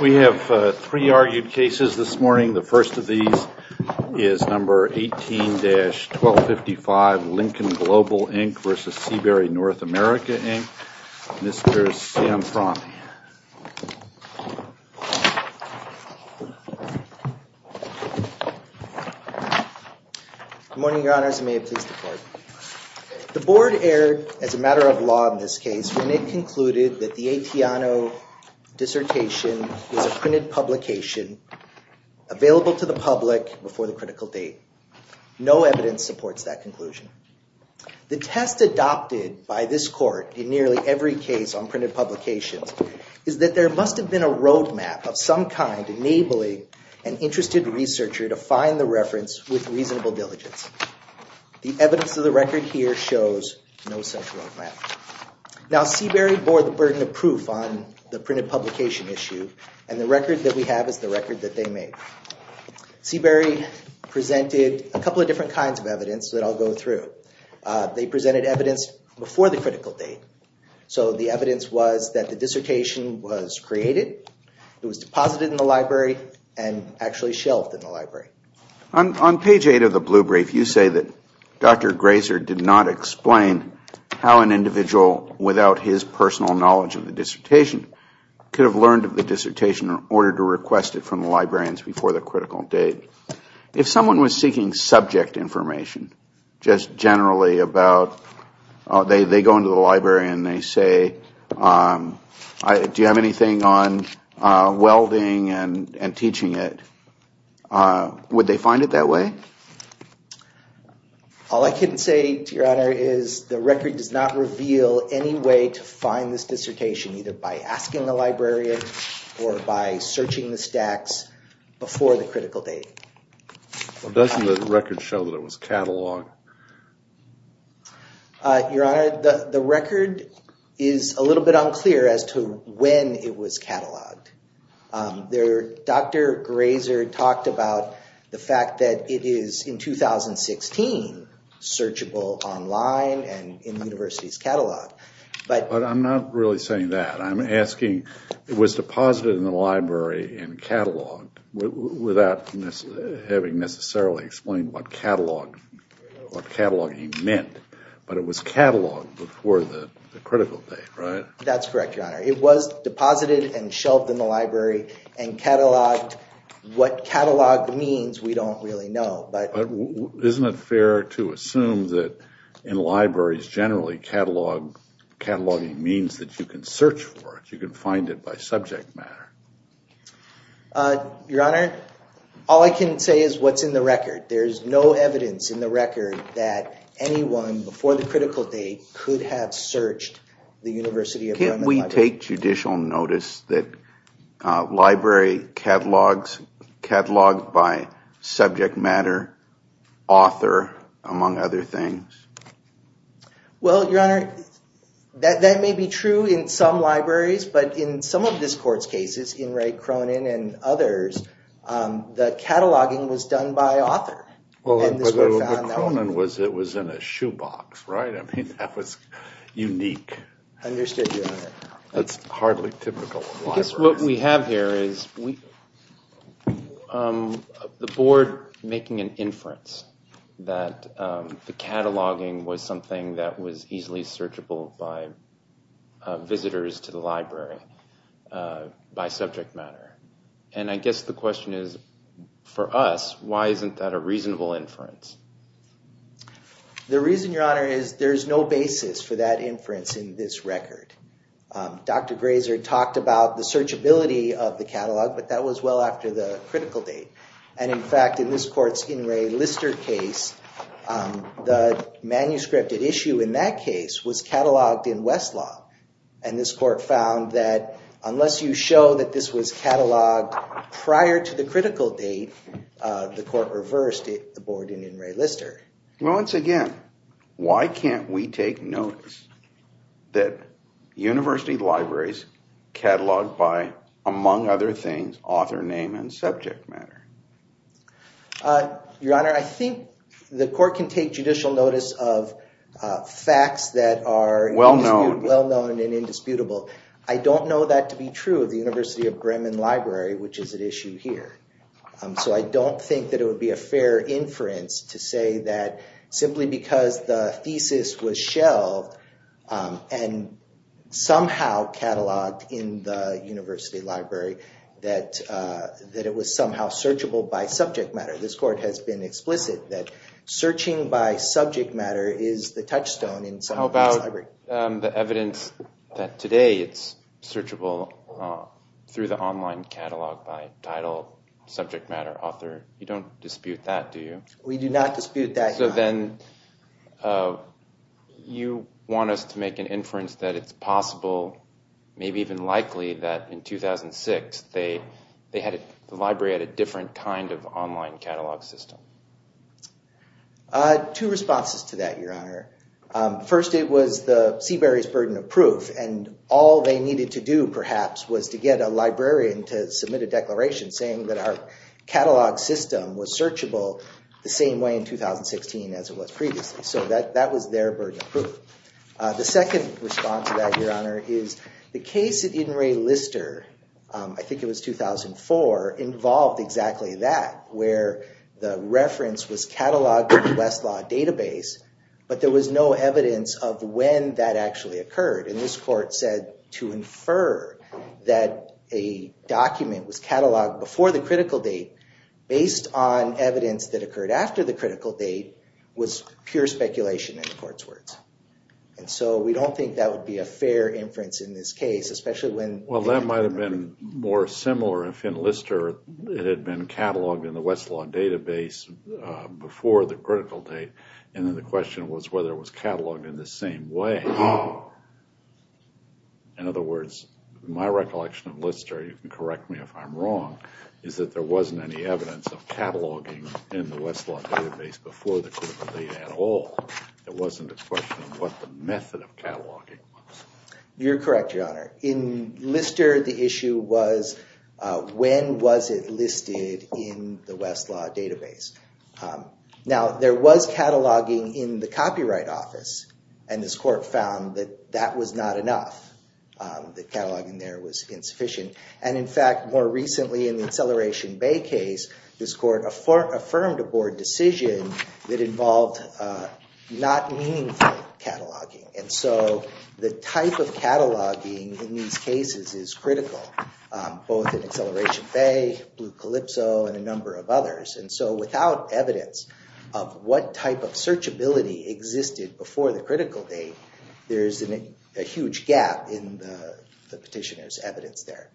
We have three argued cases this morning. The first of these is number 18-1255, Lincoln Global, Inc. v. Seabery North America, Inc. Mr. Sam Fromm. Good morning, Your Honors. May it please the Court. The Board erred as a matter of law in this case when it concluded that the Atiano dissertation was a printed publication available to the public before the critical date. No evidence supports that conclusion. The test adopted by this Court in nearly every case on printed publications is that there must have been a roadmap of some kind enabling an interested researcher to find the reference with reasonable diligence. The evidence of the record here shows no such roadmap. Now, Seabery bore the burden of proof on the printed publication issue, and the record that we have is the record that they made. Seabery presented a couple of different kinds of evidence that I'll go through. They presented evidence before the critical date, so the evidence was that the dissertation was created, it was deposited in the library, and actually shelved in the library. On page 8 of the blue brief, you say that Dr. Grazer did not explain how an individual without his personal knowledge of the dissertation could have learned of the dissertation in order to request it from the librarians before the critical date. If someone was seeking subject information, just generally about, they go into the library and they say, do you have anything on welding and teaching it, would they find it that way? All I can say, Your Honor, is the record does not reveal any way to find this dissertation either by asking the librarian or by searching the stacks before the critical date. Doesn't the record show that it was catalogued? Your Honor, the record is a little bit unclear as to when it was catalogued. Dr. Grazer talked about the fact that it is, in 2016, searchable online and in the university's catalog. But I'm not really saying that. I'm asking, it was deposited in the library and cataloged without having necessarily explained what cataloging meant, but it was cataloged before the critical date, right? That's correct, Your Honor. It was deposited and shelved in the library and cataloged. What catalog means, we don't really know. But isn't it fair to assume that in libraries generally, cataloging means that you can search for it, you can find it by subject matter? Your Honor, all I can say is what's in the record. There's no evidence in the record that anyone before the critical date could have searched the University of Wyoming library. Can't we take judicial notice that library catalogs cataloged by subject matter, author, among other things? Well, Your Honor, that may be true in some libraries, but in some of this court's cases, in Ray Cronin and others, the cataloging was done by author. Well, but Cronin was in a shoebox, right? I mean, that was unique. Understood, Your Honor. That's hardly typical of libraries. I guess what we have here is the board making an inference that the cataloging was something that was easily searchable by visitors to the library by subject matter. And I guess the question is, for us, why isn't that a reasonable inference? The reason, Your Honor, is there's no basis for that inference in this record. Dr. Grazer talked about the searchability of the catalog, but that was well after the critical date. And in fact, in this court's In Re Lister case, the manuscript at issue in that case was cataloged in Westlaw. And this court found that unless you show that this was cataloged prior to the critical date, the court reversed the board in In Re Lister. Well, once again, why can't we take notice that university libraries cataloged by, among other things, author, name, and subject matter? Your Honor, I think the court can take judicial notice of facts that are well-known and indisputable. I don't know that to be true of the University of Bremen library, which is at issue here. So I don't think that it would be a fair inference to say that simply because the thesis was shelved and somehow cataloged in the university library, that it was somehow searchable by subject matter. This court has been explicit that searching by subject matter is the touchstone in some of these libraries. The evidence that today it's searchable through the online catalog by title, subject matter, author, you don't dispute that, do you? We do not dispute that, Your Honor. So then you want us to make an inference that it's possible, maybe even likely, that in 2006 the library had a different kind of online catalog system. Two responses to that, Your Honor. First, it was the Seabury's burden of proof. And all they needed to do, perhaps, was to get a librarian to submit a declaration saying that our catalog system was searchable the same way in 2016 as it was previously. So that was their burden of proof. The second response to that, Your Honor, is the case at In re Lister, I think it was 2004, involved exactly that, where the reference was cataloged in the Westlaw database, but there was no evidence of when that actually occurred. And this court said to infer that a document was cataloged before the critical date based on evidence that occurred after the critical date was pure speculation in the court's words. And so we don't think that would be a fair inference in this case, especially when... Well, that might have been more similar if in Lister it had been cataloged in the Westlaw database before the critical date, and then the question was whether it was cataloged in the same way. In other words, my recollection of Lister, you can correct me if I'm wrong, is that there wasn't any evidence of cataloging in the Westlaw database before the critical date at all. It wasn't a question of what the method of cataloging was. You're correct, Your Honor. In Lister, the issue was when was it listed in the Westlaw database. Now, there was cataloging in the Copyright Office, and this court found that that was not enough, that cataloging there was insufficient. And in fact, more recently in the Acceleration Bay case, this court affirmed a board decision that involved not meaningful cataloging. And so the type of cataloging in these cases is critical, both in Acceleration Bay, Blue Calypso, and a number of others. And so without evidence of what type of searchability existed before the critical date, there's a huge gap in the petitioner's evidence there.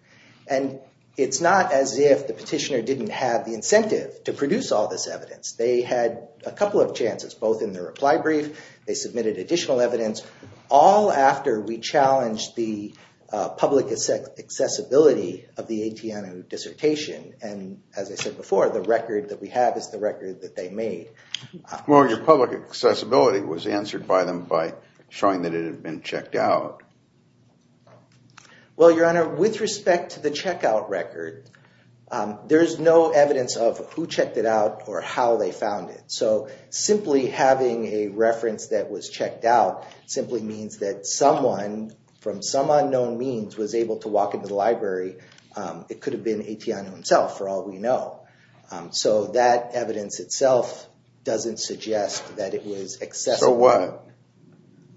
And it's not as if the petitioner didn't have the incentive to produce all this evidence. They had a couple of chances, both in the reply brief, they submitted additional evidence, all after we challenged the public accessibility of the Atiano dissertation. And as I said before, the record that we have is the record that they made. Well, your public accessibility was answered by them by showing that it had been checked out. Well, Your Honor, with respect to the checkout record, there's no evidence of who checked it out or how they found it. So simply having a reference that was checked out simply means that someone, from some unknown means, was able to walk into the library. It could have been Atiano himself, for all we know. So that evidence itself doesn't suggest that it was accessible. So what?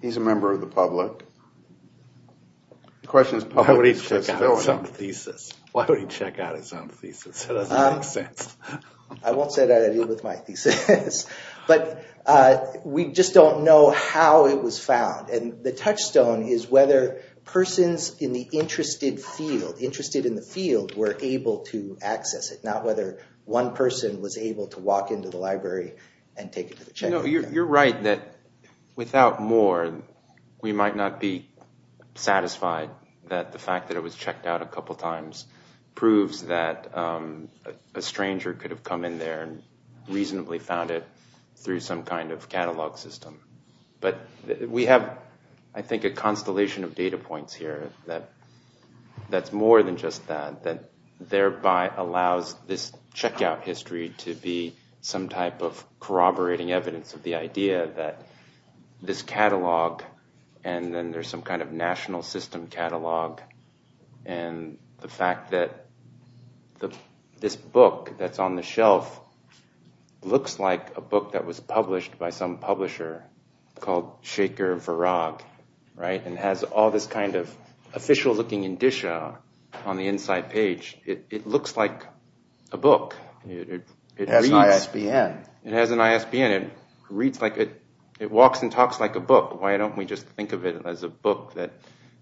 He's a member of the public. The question is, why would he check out his own thesis? Why would he check out his own thesis? That doesn't make sense. I won't say that I deal with my thesis. But we just don't know how it was found. And the touchstone is whether persons in the interested field, interested in the field, were able to access it. Not whether one person was able to walk into the library and take it to the checkout. You're right that without more, we might not be satisfied that the fact that it was checked out a couple times proves that a stranger could have come in there and reasonably found it through some kind of catalog system. But we have, I think, a constellation of data points here that's more than just that. That thereby allows this checkout history to be some type of corroborating evidence of the idea that this catalog, and then there's some kind of national system catalog. And the fact that this book that's on the shelf looks like a book that was published by some publisher called Shaker Verag, right? And has all this kind of official looking indicia on the inside page. It looks like a book. It has ISBN. It has an ISBN. It reads like a, it walks and talks like a book. Why don't we just think of it as a book that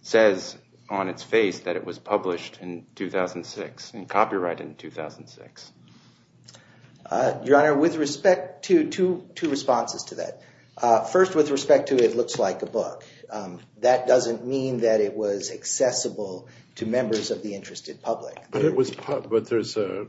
says on its face that it was published in 2006 and copyrighted in 2006? Your Honor, with respect to two responses to that. First, with respect to it looks like a book. That doesn't mean that it was accessible to members of the interested public. But it was, but there's a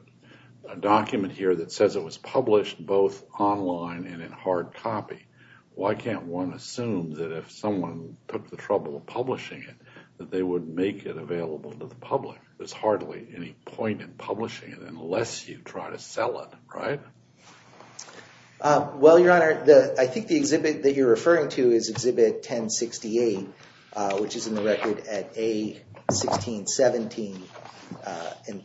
document here that says it was published both online and in hard copy. Why can't one assume that if someone took the trouble of publishing it, that they would make it available to the public? There's hardly any point in publishing it unless you try to sell it, right? Well, Your Honor, I think the exhibit that you're referring to is exhibit 1068, which is in the record at A1617. And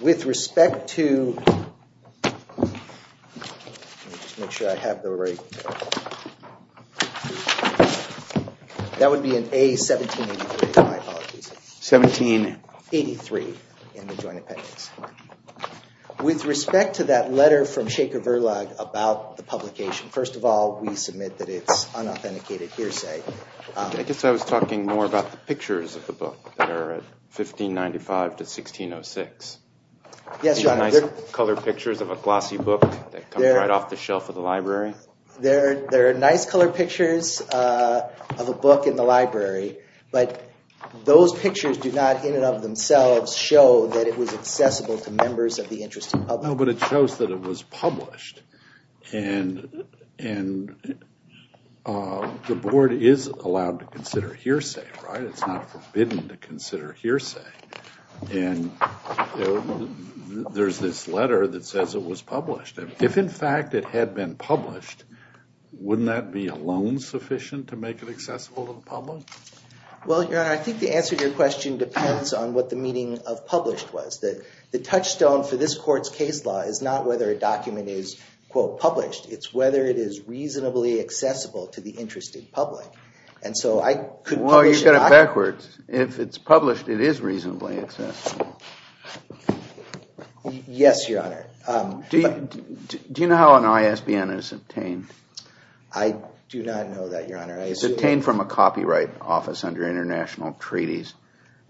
with respect to, let me just make sure I have the right, that would be in A1783, my apologies. 1783 in the joint appendix. With respect to that letter from Shaker Verlag about the publication, first of all, we submit that it's unauthenticated hearsay. I guess I was talking more about the pictures of the book that are at 1595 to 1606. Yes, Your Honor. The nice colored pictures of a glossy book that come right off the shelf of the library. There are nice colored pictures of a book in the library, but those pictures do not in and of themselves show that it was accessible to members of the interested public. No, but it shows that it was published. And the board is allowed to consider hearsay, right? It's not forbidden to consider hearsay. And there's this letter that says it was published. If, in fact, it had been published, wouldn't that be alone sufficient to make it accessible to the public? Well, Your Honor, I think the answer to your question depends on what the meaning of published was. The touchstone for this court's case law is not whether a document is, quote, published. It's whether it is reasonably accessible to the interested public. And so I could publish a document. Well, you've got it backwards. If it's published, it is reasonably accessible. Yes, Your Honor. Do you know how an ISBN is obtained? I do not know that, Your Honor. It's obtained from a copyright office under international treaties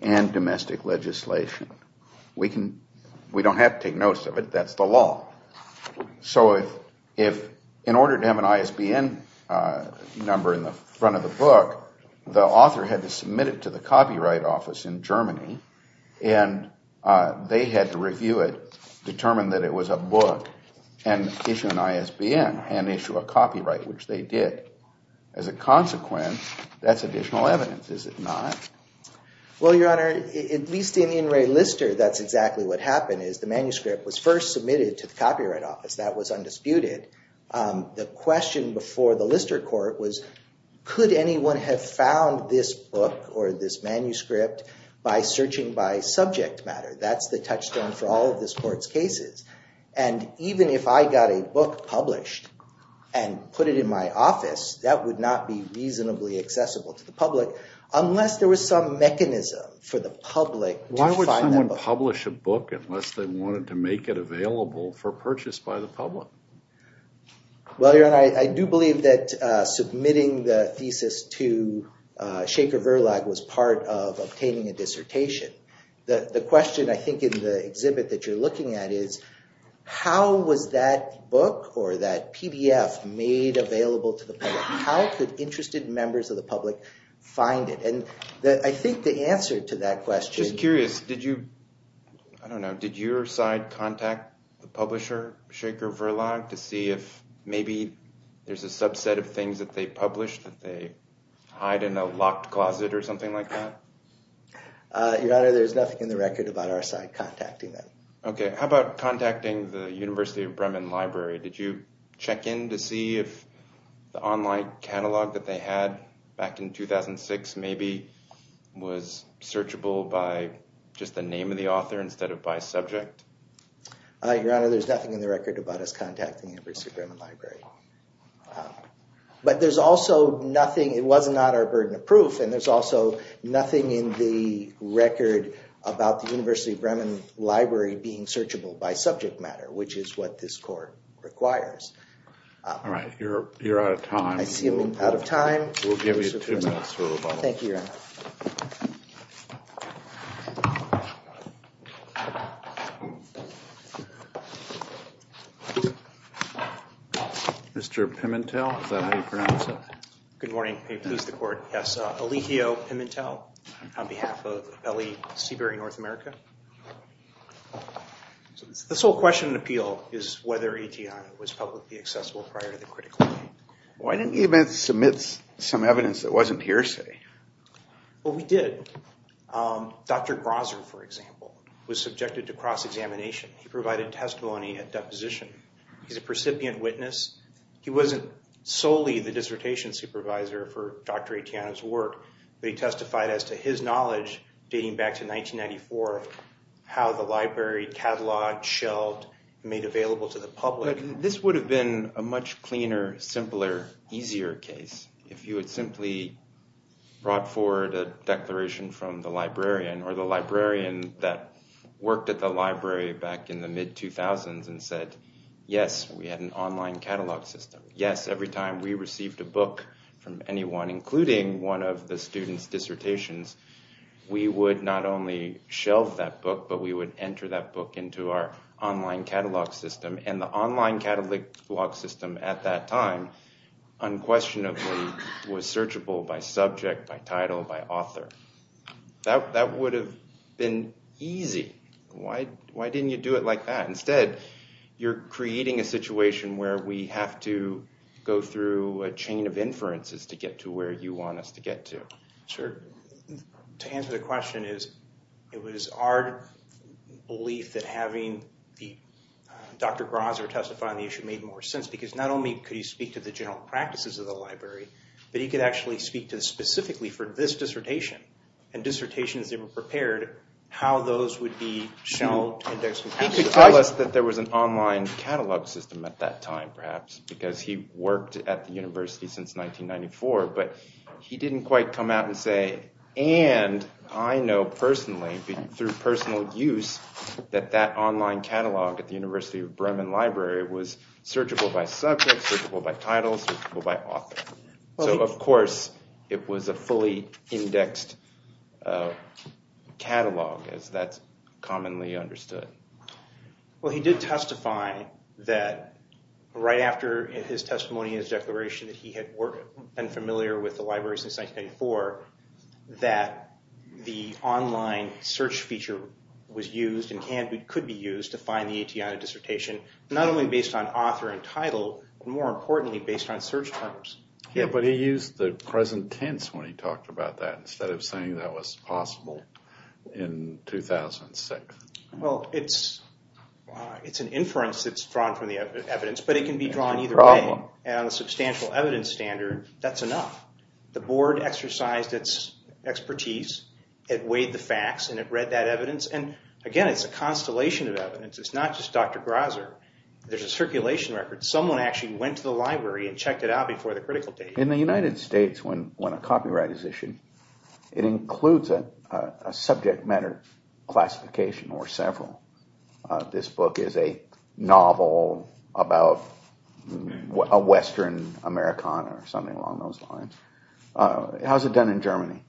and domestic legislation. We don't have to take notes of it. That's the law. So if in order to have an ISBN number in the front of the book, the author had to submit it to the copyright office in Germany. And they had to review it, determine that it was a book, and issue an ISBN and issue a copyright, which they did. As a consequence, that's additional evidence, is it not? Well, Your Honor, at least in In Re Lister, that's exactly what happened, is the manuscript was first submitted to the copyright office. That was undisputed. The question before the Lister court was, could anyone have found this book or this manuscript by searching by subject matter? That's the touchstone for all of this court's cases. And even if I got a book published and put it in my office, that would not be reasonably accessible to the public, unless there was some mechanism for the public to find that book. Why would someone publish a book unless they wanted to make it available for purchase by the public? Well, Your Honor, I do believe that submitting the thesis to Schaefer Verlag was part of obtaining a dissertation. The question, I think, in the exhibit that you're looking at is, how was that book or that PDF made available to the public? How could interested members of the public find it? And I think the answer to that question- Just curious, did you, I don't know, did your side contact the publisher, Schaefer Verlag, to see if maybe there's a subset of things that they published that they hide in a locked closet or something like that? Your Honor, there's nothing in the record about our side contacting them. Okay, how about contacting the University of Bremen Library? Did you check in to see if the online catalog that they had back in 2006, maybe, was searchable by just the name of the author instead of by subject? Your Honor, there's nothing in the record about us contacting the University of Bremen Library. But there's also nothing, it was not our burden of proof, and there's also nothing in the record about the University of Bremen Library being searchable by subject matter, which is what this court requires. All right, you're out of time. I seem out of time. We'll give you two minutes for rebuttal. Thank you, Your Honor. Mr. Pimentel, is that how you pronounce it? Good morning. May it please the Court. Yes, Alijio Pimentel on behalf of L.E. Seabury North America. This whole question and appeal is whether ETI was publicly accessible prior to the critical hearing. Why didn't you submit some evidence that wasn't hearsay? Well, we did. Dr. Grosser, for example, was subjected to cross-examination. He provided testimony at deposition. He's a percipient witness. He wasn't solely the dissertation supervisor for Dr. Etiano's work, but he testified as to his knowledge dating back to 1994 of how the library catalogued, shelved, and made available to the public. This would have been a much cleaner, simpler, easier case if you had simply brought forward a declaration from the librarian or the librarian that worked at the library back in the mid-2000s and said, yes, we had an online catalog system. Yes, every time we received a book from anyone, including one of the students' dissertations, we would not only shelve that book, but we would enter that book into our online catalog system. And the online catalog system at that time, unquestionably, was searchable by subject, by title, by author. That would have been easy. Why didn't you do it like that? Instead, you're creating a situation where we have to go through a chain of inferences to get to where you want us to get to. Sure. To answer the question, it was our belief that having Dr. Grosser testify on the issue made more sense, because not only could he speak to the general practices of the library, but he could actually speak specifically for this dissertation and dissertations that were prepared, how those would be shelved. He could tell us that there was an online catalog system at that time, perhaps, because he worked at the university since 1994. But he didn't quite come out and say, and I know personally, through personal use, that that online catalog at the University of Bremen library was searchable by subject, searchable by title, searchable by author. So, of course, it was a fully indexed catalog, as that's commonly understood. Well, he did testify that right after his testimony and his declaration that he had been familiar with the library since 1994, that the online search feature was used and could be used to find the ATI dissertation, not only based on author and title, but more importantly, based on search terms. Yeah, but he used the present tense when he talked about that, instead of saying that was possible in 2006. Well, it's an inference that's drawn from the evidence, but it can be drawn either way. And on a substantial evidence standard, that's enough. The board exercised its expertise, it weighed the facts, and it read that evidence. And again, it's a constellation of evidence. It's not just Dr. Grazer. There's a circulation record. Someone actually went to the library and checked it out before the critical date. In the United States, when a copyright is issued, it includes a subject matter classification or several. This book is a novel about a Western Americana or something along those lines. How is it done in Germany?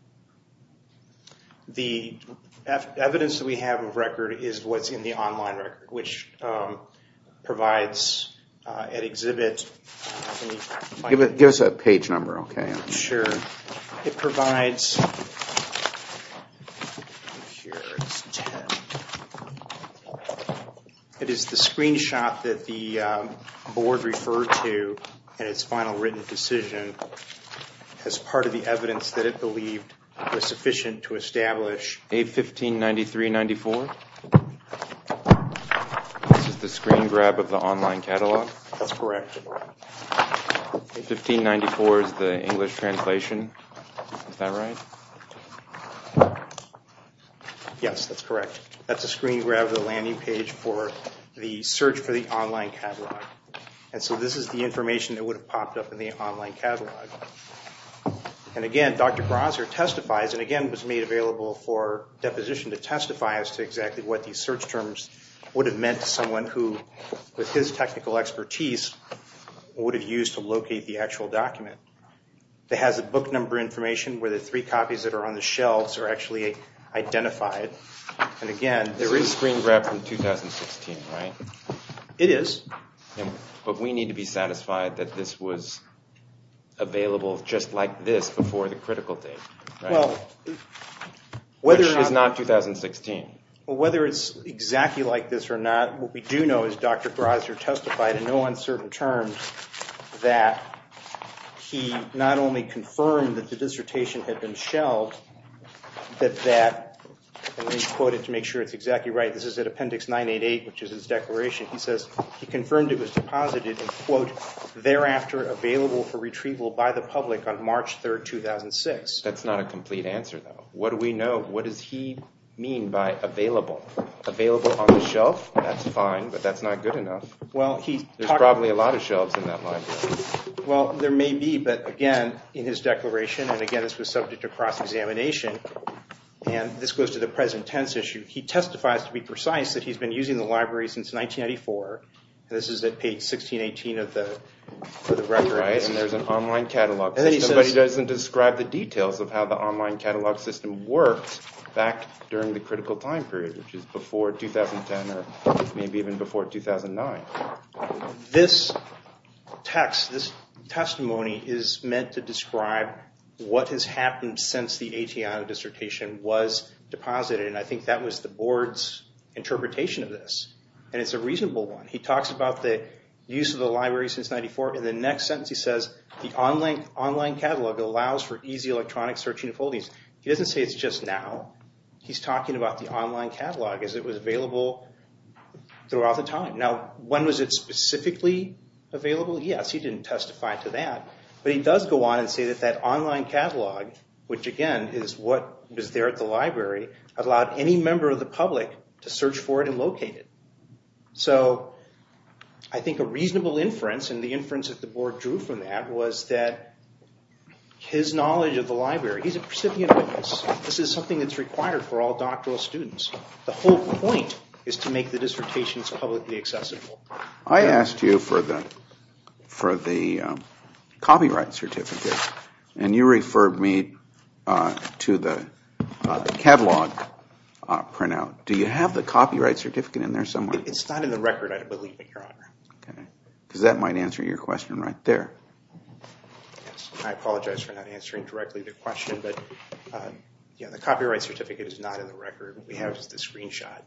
The evidence that we have of record is what's in the online record, which provides an exhibit. Give us a page number, okay? Sure. It provides... It is the screenshot that the board referred to in its final written decision as part of the evidence that it believed was sufficient to establish... A1593-94? This is the screen grab of the online catalog? That's correct. A1594 is the English translation, is that right? Yes, that's correct. That's a screen grab of the landing page for the search for the online catalog. This is the information that would have popped up in the online catalog. Again, Dr. Grazer testifies, and again, was made available for deposition to testify as to exactly what these search terms would have meant to someone who, with his technical expertise, would have used to locate the actual document. It has a book number information where the three copies that are on the shelves are actually identified. Again, there is... This is a screen grab from 2016, right? It is. But we need to be satisfied that this was available just like this before the critical date, right? Well, whether or not... Which is not 2016. Well, whether it's exactly like this or not, what we do know is Dr. Grazer testified in no uncertain terms that he not only confirmed that the dissertation had been shelved, that that, and let me quote it to make sure it's exactly right, this is at appendix 988, which is his declaration. He says he confirmed it was deposited and, quote, thereafter available for retrieval by the public on March 3rd, 2006. That's not a complete answer, though. What do we know? What does he mean by available? Available on the shelf? That's fine, but that's not good enough. Well, he... There's probably a lot of shelves in that library. Well, there may be, but again, in his declaration, and again, this was subject to cross-examination, and this goes to the present tense issue. He testifies to be precise that he's been using the library since 1994, and this is at page 1618 of the record. Right, and there's an online catalog. Somebody doesn't describe the details of how the online catalog system worked back during the critical time period, which is before 2010 or maybe even before 2009. This text, this testimony is meant to describe what has happened since the Atiano dissertation was deposited, and I think that was the board's interpretation of this, and it's a reasonable one. He talks about the use of the library since 1994. In the next sentence, he says, the online catalog allows for easy electronic searching of holdings. He doesn't say it's just now. He's talking about the online catalog as it was available throughout the time. Now, when was it specifically available? Yes, he didn't testify to that, but he does go on and say that that online catalog, which again is what was there at the library, allowed any member of the public to search for it and locate it. So, I think a reasonable inference, and the inference that the board drew from that was that his knowledge of the library, he's a recipient witness. This is something that's required for all doctoral students. The whole point is to make the dissertations publicly accessible. I asked you for the copyright certificate, and you referred me to the catalog printout. Do you have the copyright certificate in there somewhere? It's not in the record, I believe, Your Honor. Because that might answer your question right there. I apologize for not answering directly the question, but the copyright certificate is not in the record. What we have is the screenshot.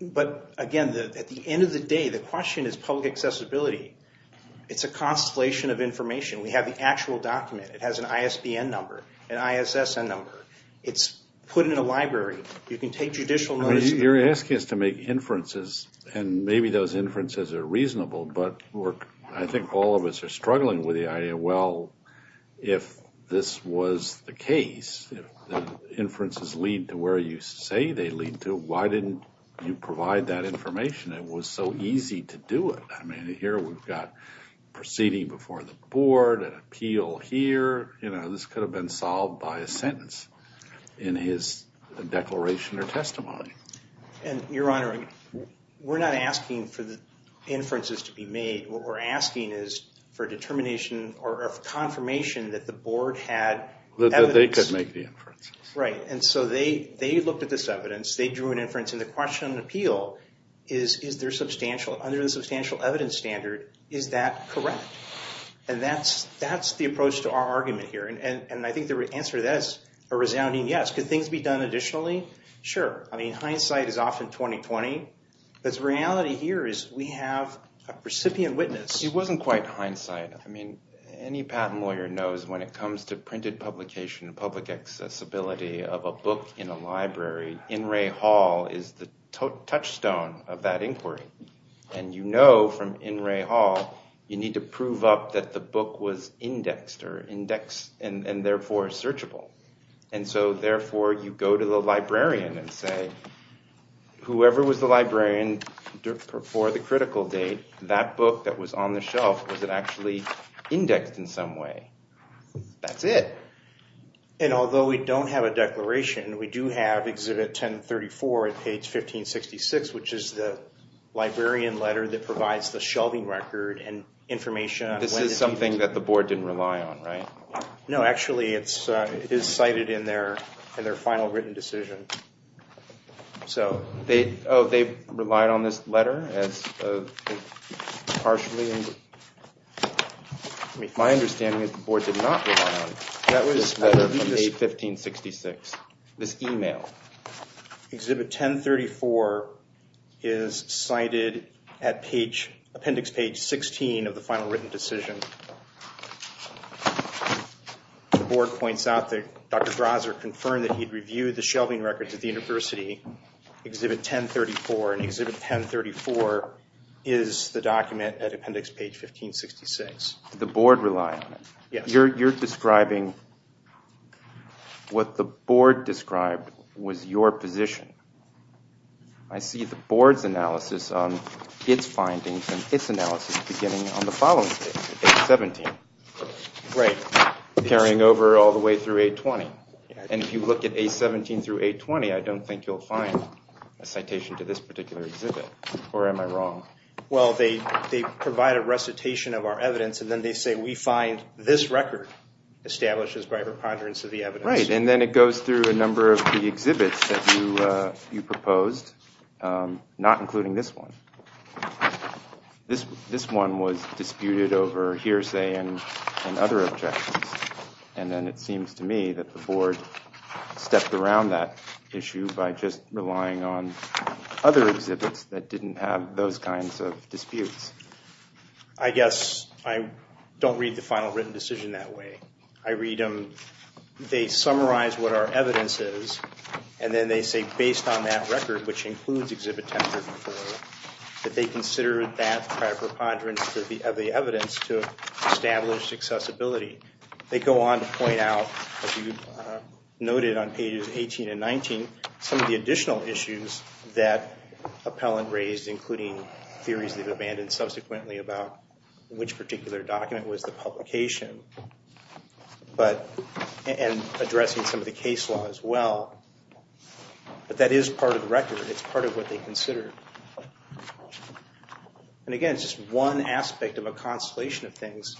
But again, at the end of the day, the question is public accessibility. It's a constellation of information. We have the actual document. It has an ISBN number, an ISSN number. It's put in a library. You can take judicial notice. You're asking us to make inferences, and maybe those inferences are reasonable, but I think all of us are struggling with the idea, well, if this was the case, if the inferences lead to where you say they lead to, why didn't you provide that information? It was so easy to do it. I mean, here we've got proceeding before the board, an appeal here. This could have been solved by a sentence in his declaration or testimony. And, Your Honor, we're not asking for the inferences to be made. What we're asking is for determination or confirmation that the board had evidence. That they could make the inferences. Right, and so they looked at this evidence. They drew an inference, and the question on appeal is, under the substantial evidence standard, is that correct? And that's the approach to our argument here, and I think the answer to that is a resounding yes. Could things be done additionally? Sure. I mean, hindsight is often 20-20. The reality here is we have a recipient witness. It wasn't quite hindsight. I mean, any patent lawyer knows when it comes to printed publication, public accessibility of a book in a library, In Re Hall is the touchstone of that inquiry. And you know from In Re Hall, you need to prove up that the book was indexed, and therefore searchable. And so, therefore, you go to the librarian and say, whoever was the librarian for the critical date, that book that was on the shelf, was it actually indexed in some way? That's it. And although we don't have a declaration, we do have Exhibit 1034 at page 1566, which is the librarian letter that provides the shelving record and information. This is something that the board didn't rely on, right? No, actually, it is cited in their final written decision. Oh, they relied on this letter? Partially? My understanding is the board did not rely on this letter from 1566. This email. Exhibit 1034 is cited at appendix page 16 of the final written decision. The board points out that Dr. Grazer confirmed that he'd reviewed the shelving records at the university. Exhibit 1034. And Exhibit 1034 is the document at appendix page 1566. Did the board rely on it? Yes. You're describing what the board described was your position. I see the board's analysis on its findings and its analysis beginning on the following date. A-17. Right. Carrying over all the way through A-20. And if you look at A-17 through A-20, I don't think you'll find a citation to this particular exhibit. Or am I wrong? Well, they provide a recitation of our evidence, and then they say, we find this record establishes by a preponderance of the evidence. Right, and then it goes through a number of the exhibits that you proposed, not including this one. This one was disputed over hearsay and other objections. And then it seems to me that the board stepped around that issue by just relying on other exhibits that didn't have those kinds of disputes. I guess I don't read the final written decision that way. I read them, they summarize what our evidence is, and then they say based on that record, which includes Exhibit 1034, that they considered that preponderance of the evidence to establish accessibility. They go on to point out, as you noted on pages 18 and 19, some of the additional issues that appellant raised, including theories they've abandoned subsequently about which particular document was the publication. And addressing some of the case law as well. But that is part of the record. It's part of what they considered. And again, it's just one aspect of a constellation of things.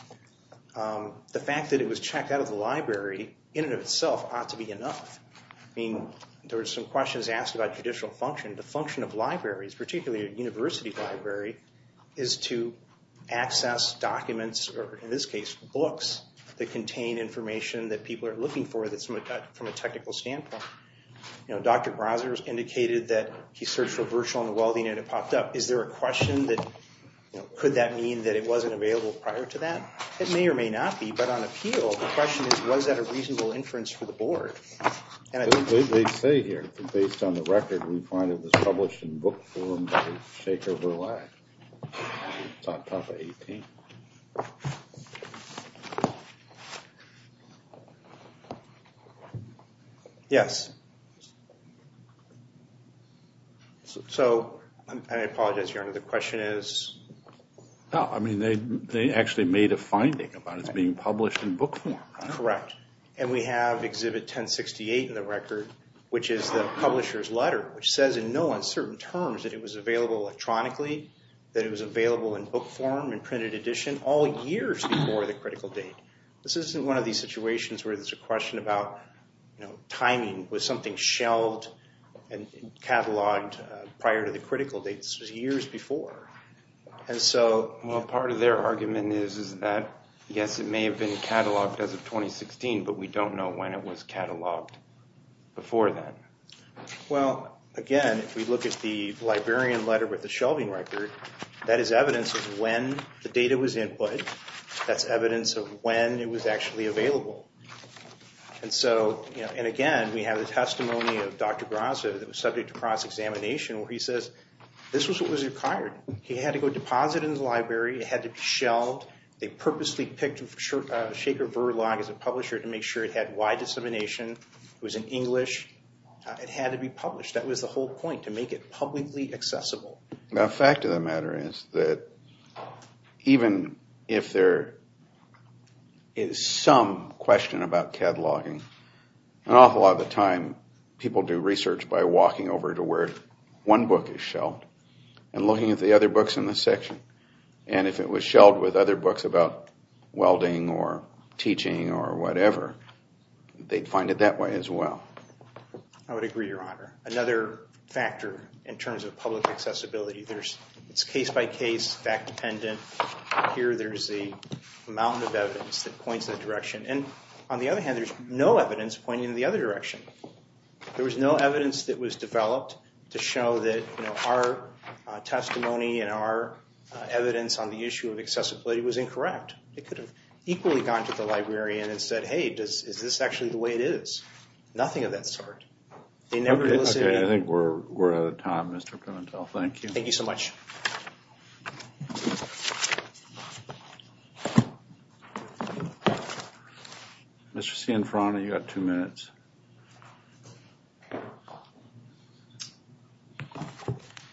The fact that it was checked out of the library, in and of itself, ought to be enough. I mean, there were some questions asked about judicial function. The function of libraries, particularly a university library, is to access documents, or in this case, books, that contain information that people are looking for from a technical standpoint. Dr. Browser indicated that he searched for virtual and welding and it popped up. Is there a question that, could that mean that it wasn't available prior to that? It may or may not be, but on appeal, the question is, was that a reasonable inference for the board? They say here, based on the record, we find it was published in book form by Shaker Verlag. It's on top of 18. Yes. So, and I apologize, Your Honor, the question is? No, I mean, they actually made a finding about it being published in book form. Correct. And we have Exhibit 1068 in the record, which is the publisher's letter, which says in no uncertain terms that it was available electronically, that it was available in book form, in printed edition, all years before the critical date. This isn't one of these situations where there's a question about timing. Was something shelved and cataloged prior to the critical date? This was years before. Well, part of their argument is that, yes, it may have been cataloged as of 2016, but we don't know when it was cataloged before then. Well, again, if we look at the librarian letter with the shelving record, that is evidence of when the data was input. That's evidence of when it was actually available. And again, we have the testimony of Dr. Grasso that was subject to cross-examination, where he says this was what was required. He had to go deposit in the library. It had to be shelved. They purposely picked Shaker Verlag as a publisher to make sure it had wide dissemination. It was in English. It had to be published. That was the whole point, to make it publicly accessible. The fact of the matter is that even if there is some question about cataloging, an awful lot of the time people do research by walking over to where one book is shelved and looking at the other books in the section. And if it was shelved with other books about welding or teaching or whatever, they'd find it that way as well. I would agree, Your Honor. Another factor in terms of public accessibility, it's case-by-case, fact-dependent. Here there's a mountain of evidence that points in a direction. On the other hand, there's no evidence pointing in the other direction. There was no evidence that was developed to show that our testimony and our evidence on the issue of accessibility was incorrect. It could have equally gone to the librarian and said, Hey, is this actually the way it is? Nothing of that sort. Okay, I think we're out of time, Mr. Pimentel. Thank you. Thank you so much. Mr. Cianfrana, you've got two minutes.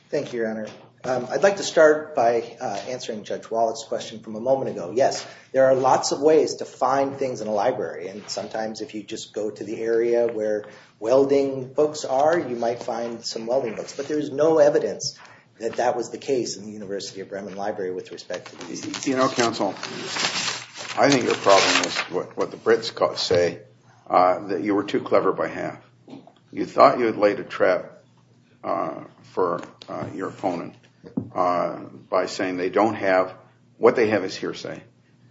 Thank you, Your Honor. I'd like to start by answering Judge Wallet's question from a moment ago. Yes, there are lots of ways to find things in a library. And sometimes if you just go to the area where welding books are, you might find some welding books. But there's no evidence that that was the case in the University of Bremen Library with respect to these issues. You know, counsel, I think your problem is what the Brits say, that you were too clever by half. You thought you had laid a trap for your opponent by saying they don't have, what they have is hearsay.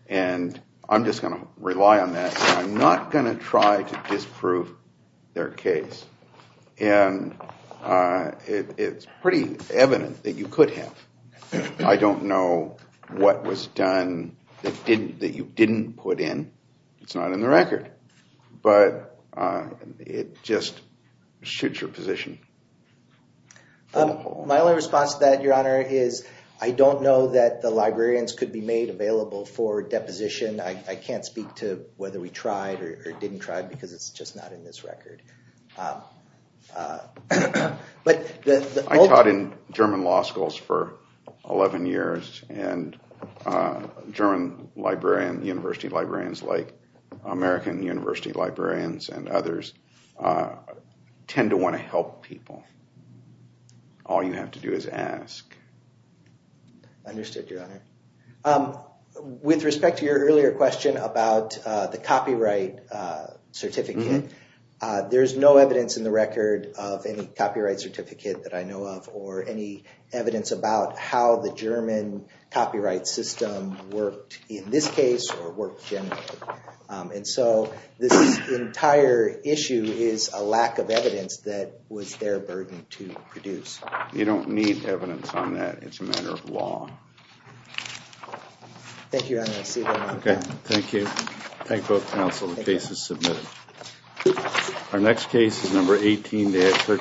And I'm just going to rely on that. I'm not going to try to disprove their case. And it's pretty evident that you could have. I don't know what was done that you didn't put in. It's not in the record. But it just suits your position. My only response to that, Your Honor, is I don't know that the librarians could be made available for deposition. I can't speak to whether we tried or didn't try because it's just not in this record. I taught in German law schools for 11 years and German librarians, university librarians like American university librarians and others, tend to want to help people. All you have to do is ask. Understood, Your Honor. With respect to your earlier question about the copyright certificate, there is no evidence in the record of any copyright certificate that I know of, or any evidence about how the German copyright system worked in this case or worked generally. And so this entire issue is a lack of evidence that was their burden to produce. You don't need evidence on that. It's a matter of law. Thank you, Your Honor. I'll see you later. Thank you. Thank both counsel. The case is submitted. Our next case is number 18-13.